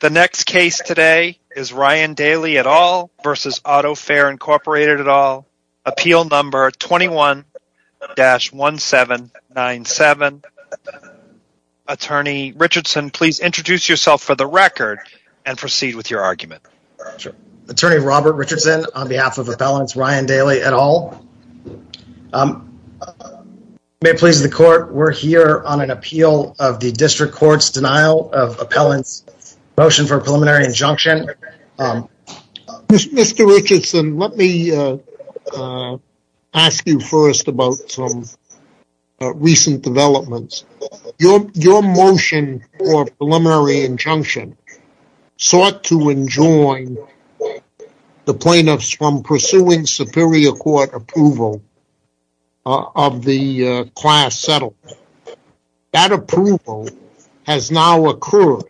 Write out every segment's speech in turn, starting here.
The next case today is Ryan Daly et al. v. Autofair, Inc. et al. Appeal number 21-1797. Attorney Richardson, please introduce yourself for the record and proceed with your argument. Attorney Robert Richardson on behalf of Appellants Ryan Daly et al. May it please the court, we're here on an appeal of the District Court's denial of motion for preliminary injunction. Mr. Richardson, let me ask you first about some recent developments. Your motion for preliminary injunction sought to enjoin the plaintiffs from pursuing superior court approval of the class settled. That approval has now occurred.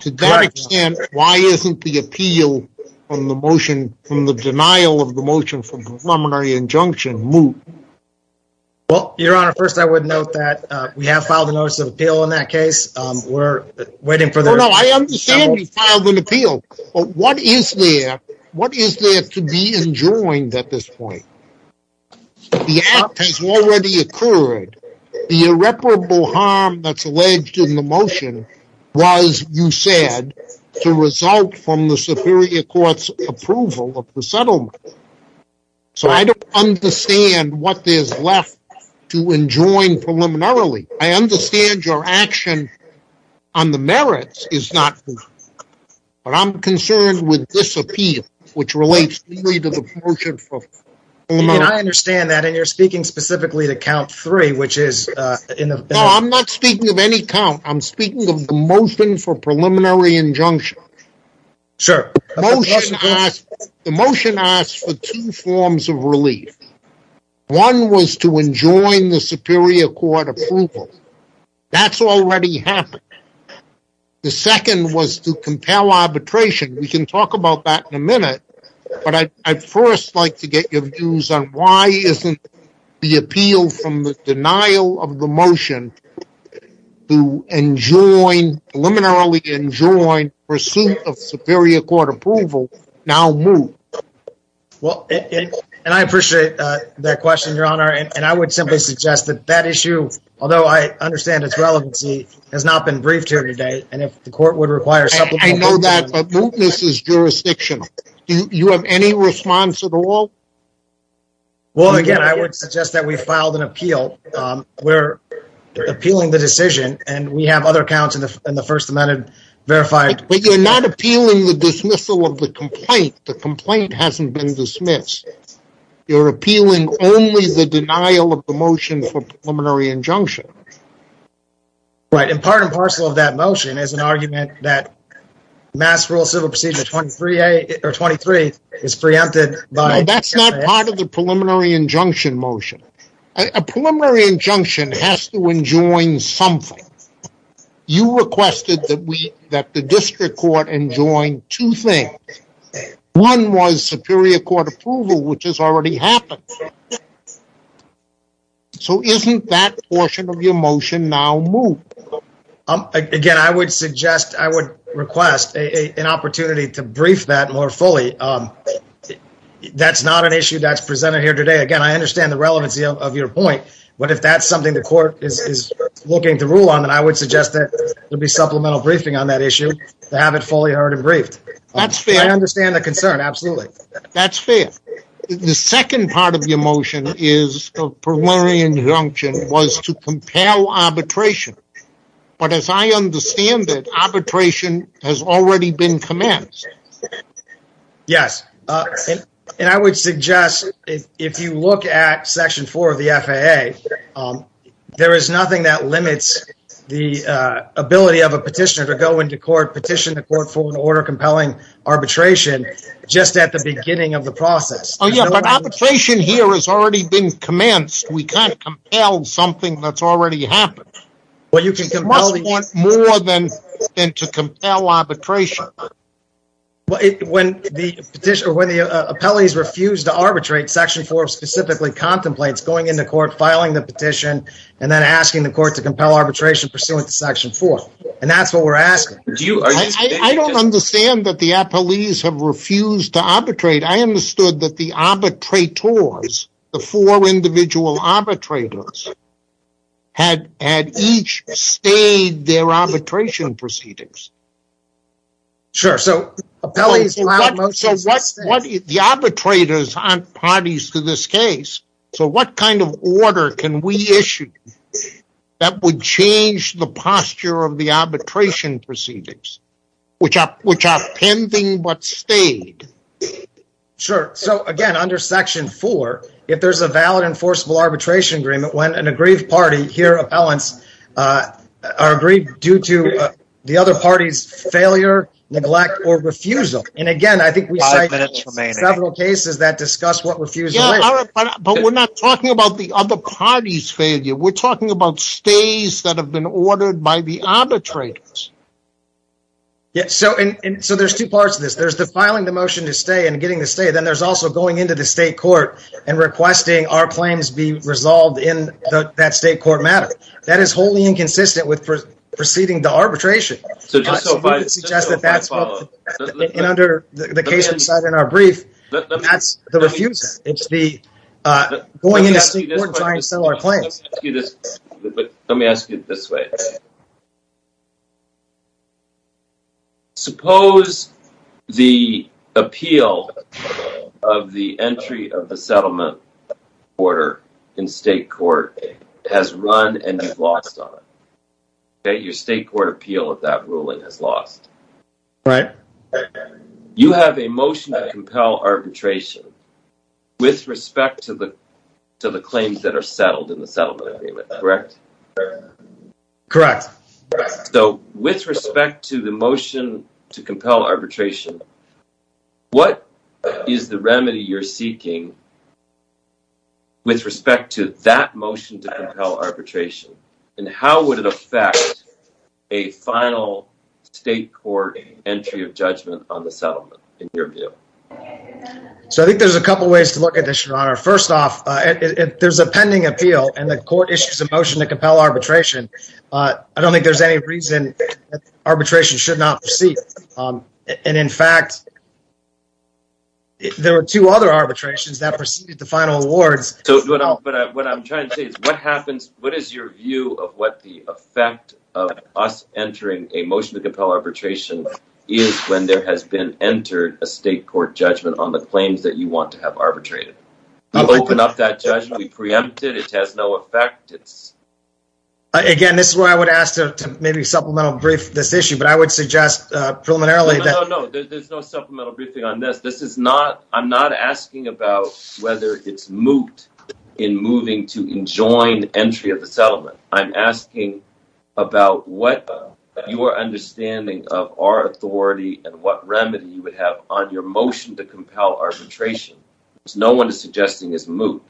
To that extent, why isn't the appeal from the motion from the denial of the motion for preliminary injunction moot? Well, Your Honor, first I would note that we have filed a notice of appeal in that case. We're waiting for the... No, no, I understand you filed an appeal, but what is there to be enjoined at this point? The act has already occurred. The irreparable harm that's alleged in the motion was, you said, to result from the superior court's approval of the settlement. So I don't understand what there's left to enjoin preliminarily. I understand your concern with this appeal, which relates to the motion for preliminary injunction. I understand that and you're speaking specifically to count three, which is... No, I'm not speaking of any count. I'm speaking of the motion for preliminary injunction. The motion asks for two forms of relief. One was to enjoin the superior court approval. That's already happened. The second was to compel arbitration. We can talk about that in a minute, but I'd first like to get your views on why isn't the appeal from the denial of the motion to enjoin, preliminarily enjoin, pursuit of superior court approval now moot? Well, and I appreciate that question, Your Honor, and I would simply suggest that that issue, although I understand its relevancy, has not been briefed and if the court would require... I know that, but mootness is jurisdictional. Do you have any response at all? Well, again, I would suggest that we filed an appeal. We're appealing the decision and we have other counts in the First Amendment verified. But you're not appealing the dismissal of the complaint. The complaint hasn't been dismissed. You're appealing only the denial of the motion for preliminary injunction. Right, and part and parcel of that motion is an argument that Mass Rural Civil Procedure 23 is preempted by... No, that's not part of the preliminary injunction motion. A preliminary injunction has to enjoin something. You requested that we, that the district court enjoin two things. One was superior court approval, which has already happened. So, isn't that portion of your motion now moot? Again, I would suggest, I would request an opportunity to brief that more fully. That's not an issue that's presented here today. Again, I understand the relevancy of your point, but if that's something the court is looking to rule on, then I would suggest that there be supplemental briefing on that issue to have it fully heard and briefed. That's fair. I understand the concern, absolutely. That's fair. The second part of your motion is the preliminary injunction was to compel arbitration, but as I understand it, arbitration has already been commenced. Yes, and I would suggest if you look at section 4 of the FAA, there is nothing that limits the ability of a petitioner to go into court, petition the court for an order compelling arbitration just at the beginning of the process. Oh, yeah, but arbitration here has already been commenced. We can't compel something that's already happened. Well, you can compel more than to compel arbitration. Well, when the petitioner, when the appellees refuse to arbitrate, section 4 specifically contemplates going into court, filing the petition, and then asking the court to compel arbitration pursuant to section 4. And that's what we're asking. I don't understand that the arbitrators, the four individual arbitrators, had each stayed their arbitration proceedings. Sure, so the arbitrators aren't parties to this case, so what kind of order can we issue that would change the posture of the arbitration proceedings, which are pending but stayed? Sure, so again, under section 4, if there's a valid enforceable arbitration agreement, when an aggrieved party, here appellants, are aggrieved due to the other party's failure, neglect, or refusal. And again, I think we cite several cases that discuss what refusal is. But we're not talking about the other party's failure. We're talking about stays that have been ordered by the arbitrators. Yeah, so there's two parts to this. There's the filing the motion to stay and getting the stay. Then there's also going into the state court and requesting our claims be resolved in that state court matter. That is wholly inconsistent with proceeding to arbitration. So just so I can suggest that that's what, and under the case we cited in our brief, that's the refusal. It's the going into state court and trying to settle our case. Suppose the appeal of the entry of the settlement order in state court has run and you've lost on it. Your state court appeal of that ruling has lost. You have a motion to compel arbitration with respect to the claims that are settled in the settlement agreement, correct? Correct. So with respect to the motion to compel arbitration, what is the remedy you're seeking with respect to that motion to compel arbitration? And how would it affect a final state court entry of judgment on the settlement in your view? So I think there's a couple ways to look at this, Your Honor. First off, there's a pending appeal and the court issues a motion to compel arbitration I don't think there's any reason arbitration should not proceed. And in fact, there were two other arbitrations that preceded the final awards. So what I'm trying to say is what happens, what is your view of what the effect of us entering a motion to compel arbitration is when there has been entered a state court judgment on the claims that you want to have Maybe supplemental brief this issue, but I would suggest preliminarily. No, no, no, there's no supplemental briefing on this. This is not, I'm not asking about whether it's moot in moving to enjoin entry of the settlement. I'm asking about what your understanding of our authority and what remedy you would have on your motion to compel arbitration. No one is suggesting is moot.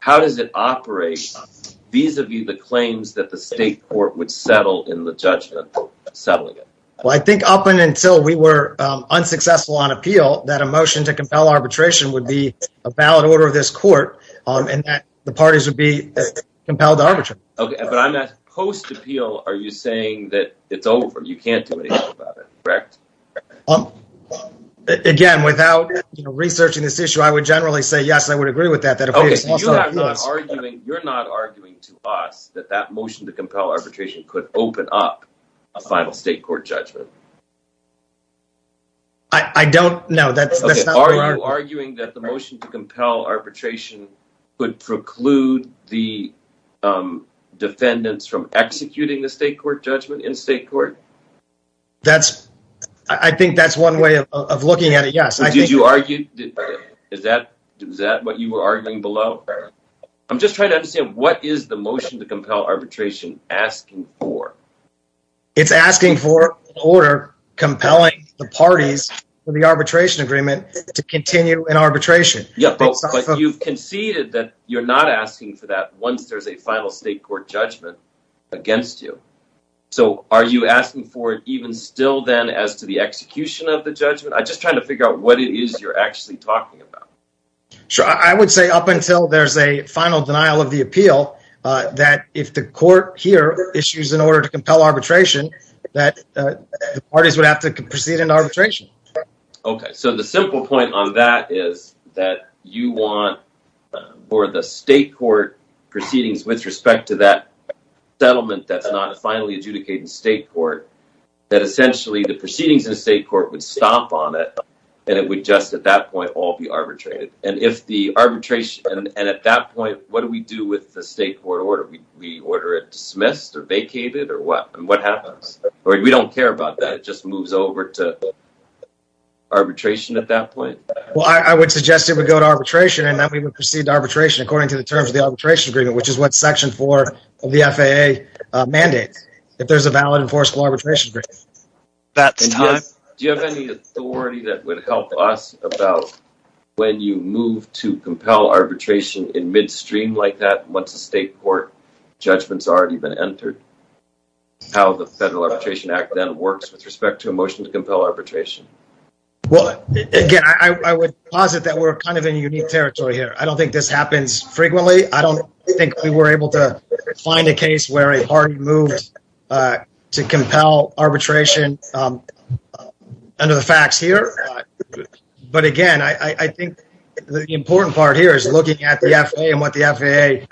How does it operate? These are the claims that the court would settle in the judgment, settling it. Well, I think up until we were unsuccessful on appeal that a motion to compel arbitration would be a valid order of this court and that the parties would be compelled to arbitrate. Okay, but I'm not post appeal. Are you saying that it's over? You can't do anything about it, correct? Again, without researching this issue, I would generally say yes, I would agree with that. You're not arguing to us that that motion to arbitration could open up a final state court judgment. I don't know. Are you arguing that the motion to compel arbitration could preclude the defendants from executing the state court judgment in state court? That's, I think that's one way of looking at it. Yes. Did you argue? Is that what you were asking for? It's asking for an order compelling the parties for the arbitration agreement to continue in arbitration. Yeah, but you've conceded that you're not asking for that once there's a final state court judgment against you. So are you asking for it even still then as to the execution of the judgment? I'm just trying to figure out what it is you're actually talking about. Sure, I would say up until there's a final denial of the appeal, that if the court here issues an order to compel arbitration, that the parties would have to proceed in arbitration. Okay, so the simple point on that is that you want for the state court proceedings with respect to that settlement that's not finally adjudicated in state court, that essentially the proceedings in state court would stop on it and it would just at that point all be arbitrated. And if the arbitration, and at that point what do we do with the state court order? We order it dismissed or vacated or what? And what happens? We don't care about that. It just moves over to arbitration at that point. Well, I would suggest it would go to arbitration and that we would proceed to arbitration according to the terms of the arbitration agreement, which is what section four of the FAA mandates. If there's a valid enforceable arbitration agreement. That's time. Do you have any authority that would help us about when you move to compel arbitration in midstream like that once the state court judgment's already been entered? How the Federal Arbitration Act then works with respect to a motion to compel arbitration? Well, again, I would posit that we're kind of in unique territory here. I don't think this happens when a party moves to compel arbitration under the facts here. But again, I think the important part here is looking at the FAA and what the FAA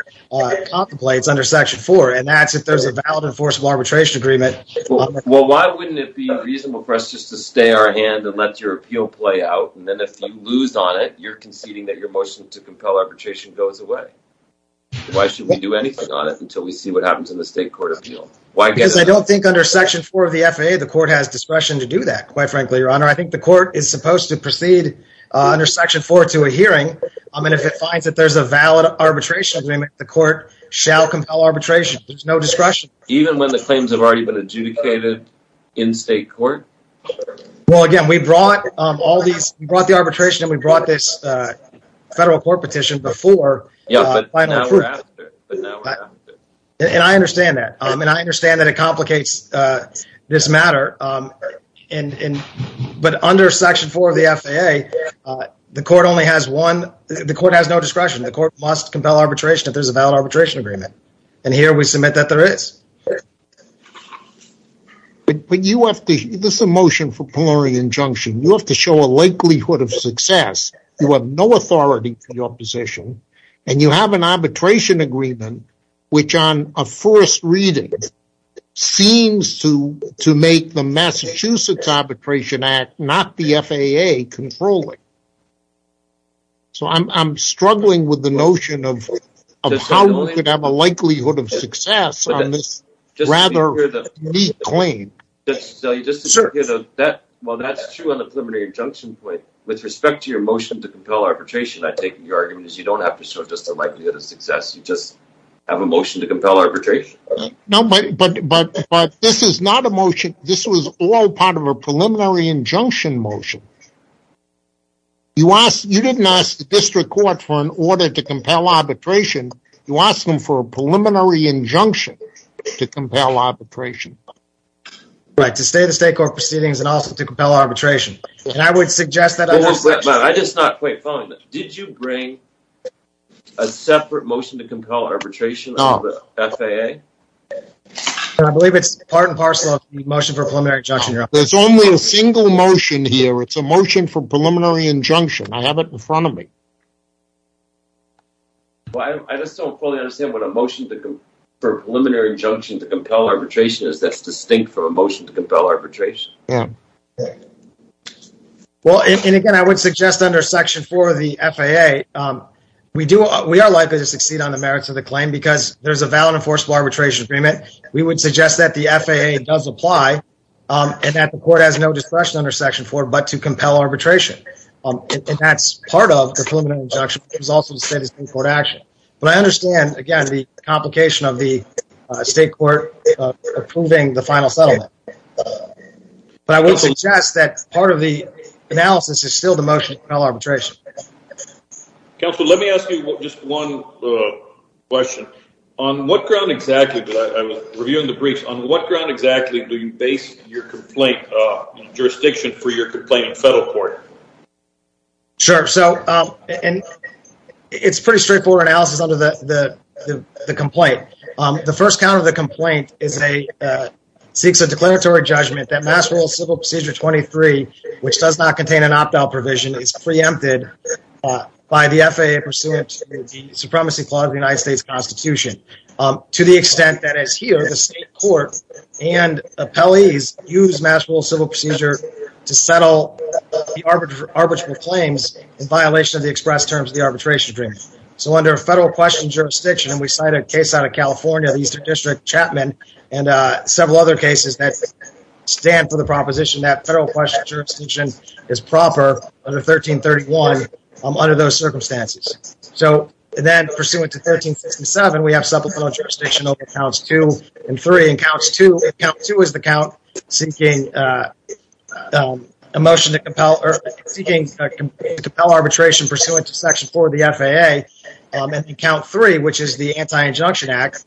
contemplates under section four. And that's if there's a valid enforceable arbitration agreement. Well, why wouldn't it be reasonable for us just to stay our hand and let your appeal play out? And then if you lose on it, you're conceding that your motion to compel arbitration goes away. Why should we do anything on it until we see what happens in the state court appeal? Because I don't think under section four of the FAA, the court has discretion to do that, quite frankly, your honor. I think the court is supposed to proceed under section four to a hearing. And if it finds that there's a valid arbitration agreement, the court shall compel arbitration. There's no discretion. Even when the claims have already been adjudicated in state court? Well, again, we brought the arbitration and we brought this before. And I understand that. And I understand that it complicates this matter. But under section four of the FAA, the court only has one. The court has no discretion. The court must compel arbitration if there's a valid arbitration agreement. And here we submit that there is. But you have to, this is a motion for the opposition, and you have an arbitration agreement, which on a first reading, seems to make the Massachusetts Arbitration Act, not the FAA, controlling. So I'm struggling with the notion of how we could have a likelihood of success on this rather clean. Well, that's true on the preliminary injunction point. With respect to your motion to compel arbitration, I take your argument is you don't have to show just the likelihood of success. You just have a motion to compel arbitration. No, but this is not a motion. This was all part of a preliminary injunction motion. You didn't ask the district court for an order to compel arbitration. You asked them for a preliminary injunction to compel arbitration. Right, to stay the state court proceedings and also to compel arbitration. And I would suggest I just not quite fine. Did you bring a separate motion to compel arbitration of the FAA? I believe it's part and parcel of the motion for preliminary injunction. There's only a single motion here. It's a motion for preliminary injunction. I have it in front of me. Well, I just don't fully understand what a motion for preliminary injunction to compel arbitration is that's distinct from a motion to compel arbitration. Yeah. Yeah. Well, and again, I would suggest under Section 4 of the FAA, we are likely to succeed on the merits of the claim because there's a valid enforceable arbitration agreement. We would suggest that the FAA does apply and that the court has no discretion under Section 4 but to compel arbitration. And that's part of the preliminary injunction. It was also the state of state court action. But I understand, again, the complication of the state court approving the final settlement. But I would suggest that part of the analysis is still the motion to compel arbitration. Counselor, let me ask you just one question. On what ground exactly, I was reviewing the briefs, on what ground exactly do you base your complaint, jurisdiction for your complaint in federal court? Sure. So, and it's pretty straightforward analysis under the complaint. The first count of the complaint is a, seeks a declaratory judgment that Mass Rural Civil Procedure 23, which does not contain an opt-out provision, is preempted by the FAA pursuant to the Supremacy Clause of the United States Constitution. To the extent that is here, the state court and appellees use Mass Rural Civil Procedure to settle the arbitral claims in violation of the express terms of the arbitration agreement. So under a federal question jurisdiction, and we cite a case out of California, the Eastern District Chapman, and several other cases that stand for the proposition that federal question jurisdiction is proper under 1331 under those circumstances. So then pursuant to 1367, we have supplemental jurisdiction over counts two and three. In counts two, count two is the count seeking a motion to account three, which is the anti-injunction act.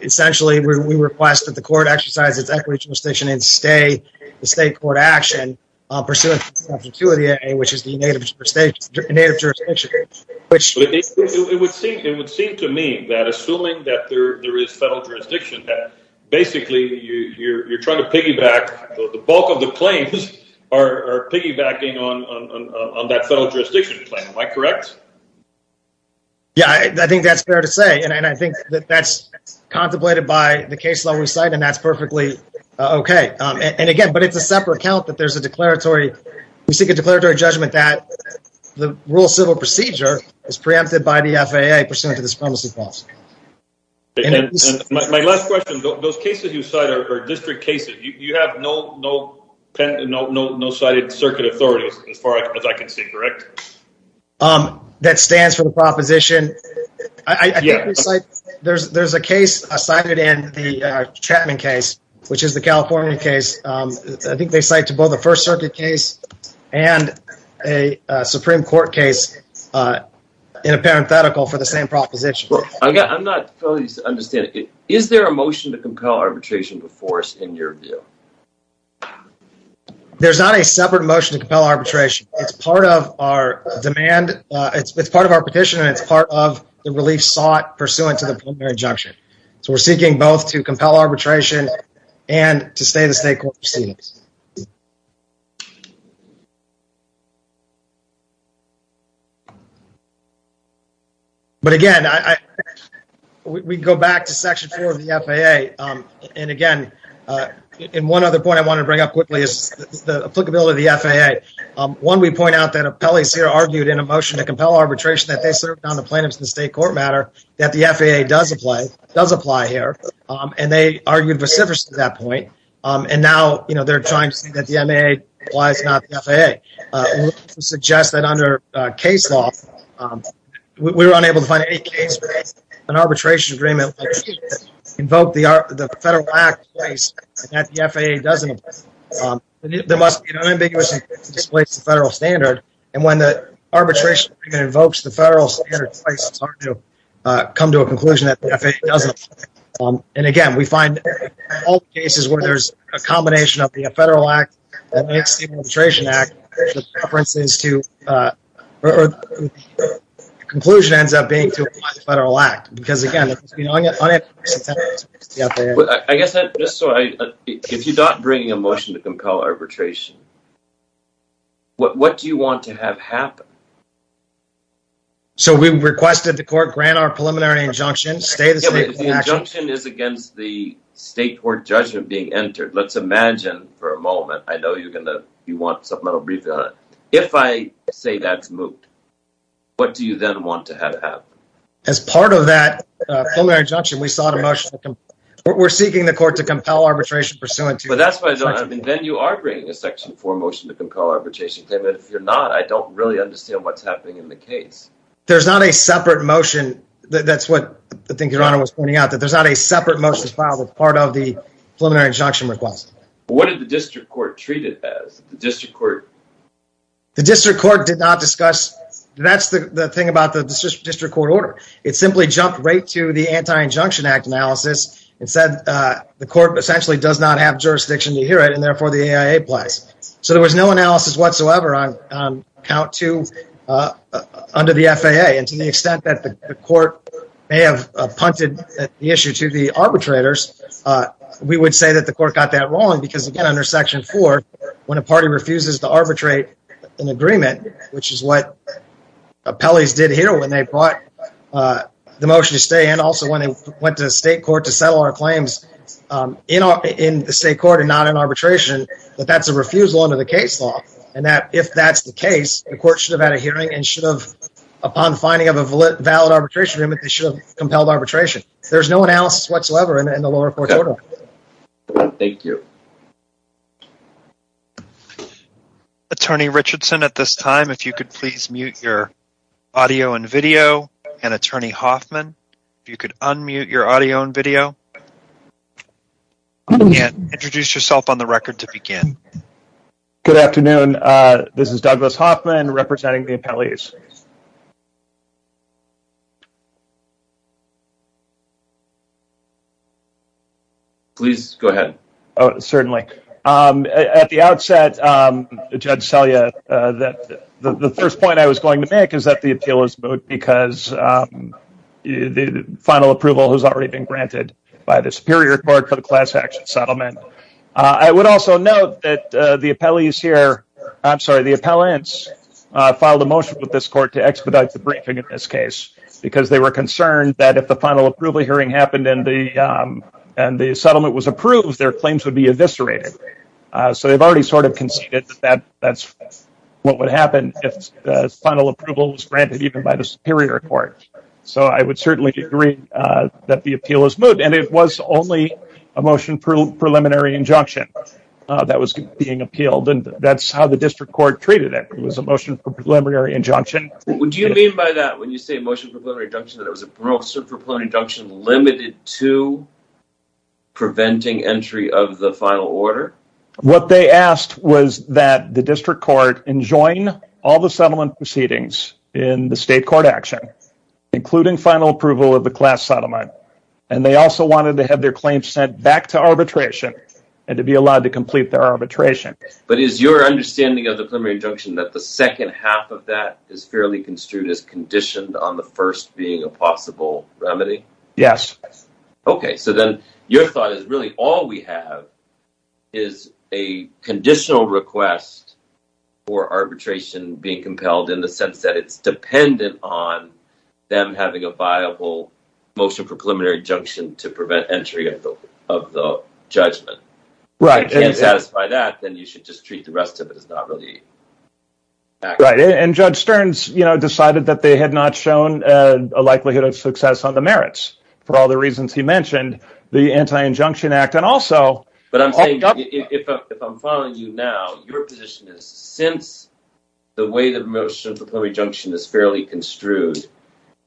Essentially, we request that the court exercise its equity jurisdiction and stay the state court action pursuant to the opportunity, which is the native jurisdiction. It would seem to me that assuming that there is federal jurisdiction, that basically you're trying to piggyback the bulk of the claims are piggybacking on that federal jurisdiction claim. Am I correct? Yeah, I think that's fair to say. And I think that that's contemplated by the case law we cite, and that's perfectly okay. And again, but it's a separate count that there's a declaratory. We seek a declaratory judgment that the Rural Civil Procedure is preempted by the FAA pursuant to the Supremacy Clause. My last question, those cases you cite are district cases. You have no circuit authorities as far as I can see, correct? That stands for the proposition. There's a case cited in the Chapman case, which is the California case. I think they cite to both the First Circuit case and a Supreme Court case in a parenthetical for the same proposition. I'm not fully understanding. Is there a motion to compel arbitration before us in your view? There's not a separate motion to compel arbitration. It's part of our demand. It's part of our petition, and it's part of the relief sought pursuant to the preliminary injunction. So we're seeking both to compel arbitration and to stay in the State Court proceedings. But again, we go back to Section 4 of the FAA. And again, and one other point I want to bring up quickly is the applicability of the FAA. One, we point out that appellees here argued in a motion to compel arbitration that they served on the plaintiffs in the State Court matter that the FAA does apply here, and they argued recidivist at that point. And now, they're trying to see that the MAA applies, not the FAA. We suggest that under case law, we were unable to find any case where an arbitration agreement invoked the federal act in place and that the FAA doesn't apply. There must be an unambiguous intent to displace the federal standard. And when the arbitration agreement invokes the federal standard twice, it's hard to come to a conclusion that the FAA doesn't apply. And again, we find all the cases where there's a combination of the federal act that makes the arbitration act, the preference is to, or the conclusion ends up being to apply the federal act. Because again, there's been unambiguous intent to displace the FAA. I guess that, just so I, if you're not bringing a motion to compel arbitration, what do you want to have happen? So we requested the court grant our preliminary injunction, stay in the State Court action. If the injunction is against the State Court judgment being entered, let's imagine for a moment, I know you're going to, you want supplemental briefing on it. If I say that's moved, what do you then want to have happen? As part of that preliminary injunction, we sought a motion to compel, we're seeking the court to compel arbitration pursuant to- But that's why I don't, I mean, then you are bringing a section four motion to compel arbitration claim. And if you're not, I don't really understand what's happening in the case. There's not a separate motion, that's what I think your honor was pointing out, that there's not a separate motion filed as part of the preliminary injunction request. What did the district court treat it as? The district court- The district court did not discuss, that's the thing about the district court order. It simply jumped right to the Anti-Injunction Act analysis and said the court essentially does not have jurisdiction to hear it and therefore the AIA applies. So there was no analysis whatsoever count two under the FAA. And to the extent that the court may have punted the issue to the arbitrators, we would say that the court got that wrong. Because again, under section four, when a party refuses to arbitrate an agreement, which is what appellees did here when they brought the motion to stay, and also when they went to state court to settle our claims in the state court and not in arbitration, that that's a refusal under the case law. And that if that's the case, the court should have had a hearing and should have, upon finding of a valid arbitration agreement, they should have compelled arbitration. There's no analysis whatsoever in the lower court order. Thank you. Attorney Richardson, at this time, if you could please mute your audio and video. And Attorney Hoffman, if you could unmute your audio and video. And introduce yourself on the record to begin. Good afternoon. This is Douglas Hoffman representing the appellees. Please go ahead. Oh, certainly. At the outset, Judge Selya, the first point I was going to make is that because the final approval has already been granted by the Superior Court for the class action settlement. I would also note that the appellants filed a motion with this court to expedite the briefing in this case, because they were concerned that if the final approval hearing happened and the settlement was approved, their claims would be eviscerated. So they've already conceded that that's what would happen if the final approval was granted even by the Superior Court. So I would certainly agree that the appeal is moot. And it was only a motion for preliminary injunction that was being appealed. And that's how the district court treated it. It was a motion for preliminary injunction. What do you mean by that? When you say motion for preliminary injunction, that it was a motion for preliminary injunction limited to preventing entry of the final order? What they asked was that the district court enjoin all the settlement proceedings in the state court action, including final approval of the class settlement. And they also wanted to have their claims sent back to arbitration and to be allowed to complete their arbitration. But is your understanding of the preliminary injunction that the second half of that is fairly construed as conditioned on the first being a possible remedy? Yes. Okay. So then your thought is really all we have is a conditional request for arbitration being compelled in the sense that it's dependent on them having a viable motion for preliminary injunction to prevent entry of the judgment. If you can't satisfy that, then you should just treat the rest of it as not really. Right. And Judge Stearns decided that they had not shown a likelihood of success on the merits for all the reasons he mentioned, the Anti-Injunction Act and also... But I'm saying if I'm following you now, your position is since the way the motion for preliminary injunction is fairly construed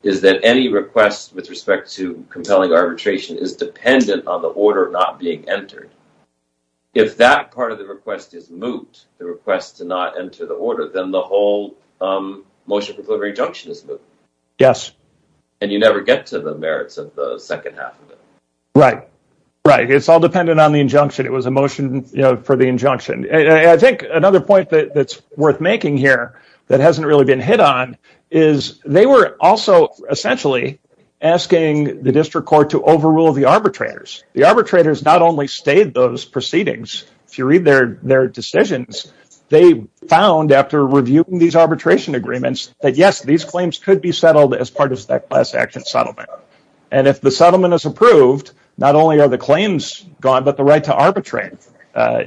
is that any request with respect to compelling arbitration is dependent on the order not being entered. If that part of the request is moot, the request to not enter the order, then the whole motion for preliminary injunction is moot. Yes. And you never get to the merits of the second half of it. Right. Right. It's all dependent on the injunction. It was a motion for the injunction. I think another point that's worth making here that hasn't really been hit on is they were also essentially asking the district court to overrule the arbitrators. The arbitrators not only stayed those proceedings, if you read their decisions, they found after reviewing these arbitration agreements that, yes, these claims could be settled as part of that class action settlement. And if the settlement is approved, not only are the claims gone, but the right to arbitrate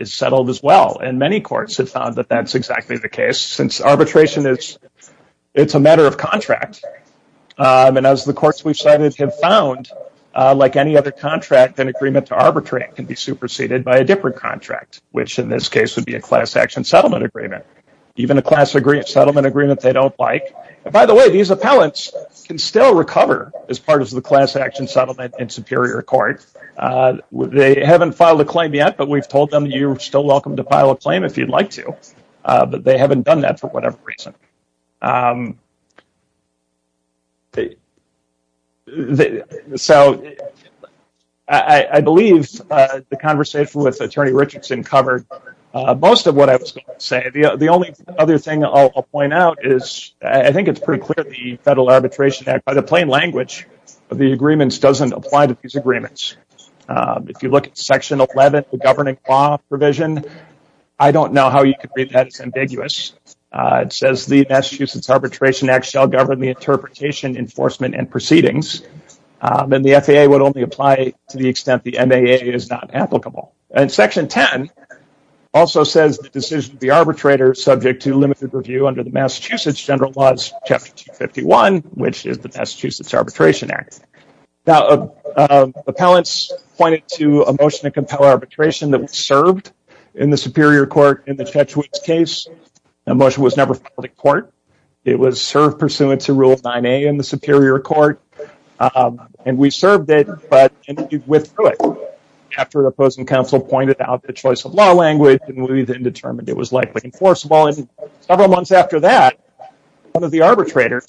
is settled as well. And many courts have found that that's exactly the case since arbitration it's a matter of contract. And as the courts we've cited have found, like any other contract, an agreement to arbitrate can be superseded by a different contract, which in this case would be a class action settlement agreement, even a class settlement agreement they don't like. By the way, these appellants can still recover as part of the class action settlement in Superior Court. They haven't filed a claim yet, but we've told them you're still welcome to file a claim if I believe the conversation with Attorney Richardson covered most of what I was going to say. The only other thing I'll point out is I think it's pretty clear the Federal Arbitration Act, by the plain language of the agreements, doesn't apply to these agreements. If you look at Section 11, the governing law provision, I don't know how you could read that. It's ambiguous. It says the Massachusetts Arbitration Act shall govern the interpretation, enforcement, and proceedings. And the FAA would only apply to the extent the MAA is not applicable. And Section 10 also says the decision of the arbitrator is subject to limited review under the Massachusetts General Laws, Chapter 251, which is the Massachusetts Arbitration Act. Now, appellants pointed to a motion to compel arbitration that was served in the Superior Court in the Chetwick's case. That motion was never filed in court. It was served pursuant to Rule 9A in the Superior Court. And we served it, but it withdrew it after an opposing counsel pointed out the choice of law language, and we then determined it was likely enforceable. And several months after that, one of the arbitrators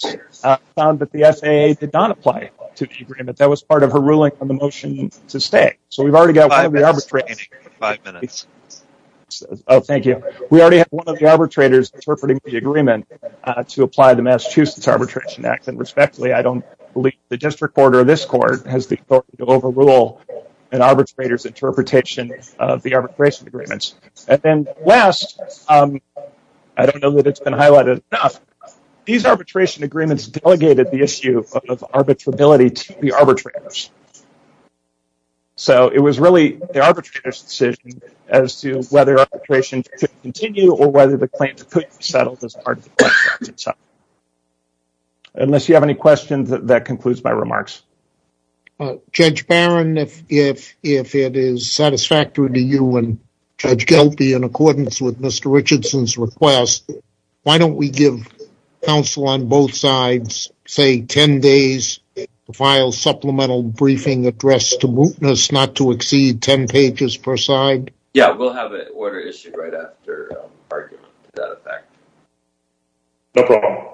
found that the FAA did not apply to the agreement. That was part of her ruling on the motion to stay. So we've already got one of the arbitrators. Oh, thank you. We already have one of the arbitrators interpreting the agreement to apply the Massachusetts Arbitration Act. And respectfully, I don't believe the district court or this court has the authority to overrule an arbitrator's interpretation of the arbitration agreements. And then last, I don't know that it's been highlighted enough, these arbitration agreements delegated the issue of arbitrability to the arbitrators. So it was really the arbitrator's decision as to whether arbitration could continue or whether the claim could be settled as part of the question itself. Unless you have any questions, that concludes my remarks. Judge Barron, if it is satisfactory to you and Judge Gelpi in accordance with Mr. Richardson's request, why don't we give counsel on both sides, say, 10 days to file supplemental briefing address to mootness not to exceed 10 pages per side? Yeah, we'll have an order issued right after argument to that effect. No problem.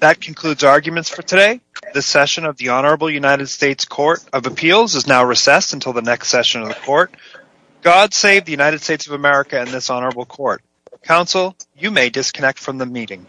That concludes arguments for today. The session of the Honorable United States Court of Appeals is now recessed until the next session of the court. God save the United States of America and this honorable court. Counsel, you may disconnect from the meeting.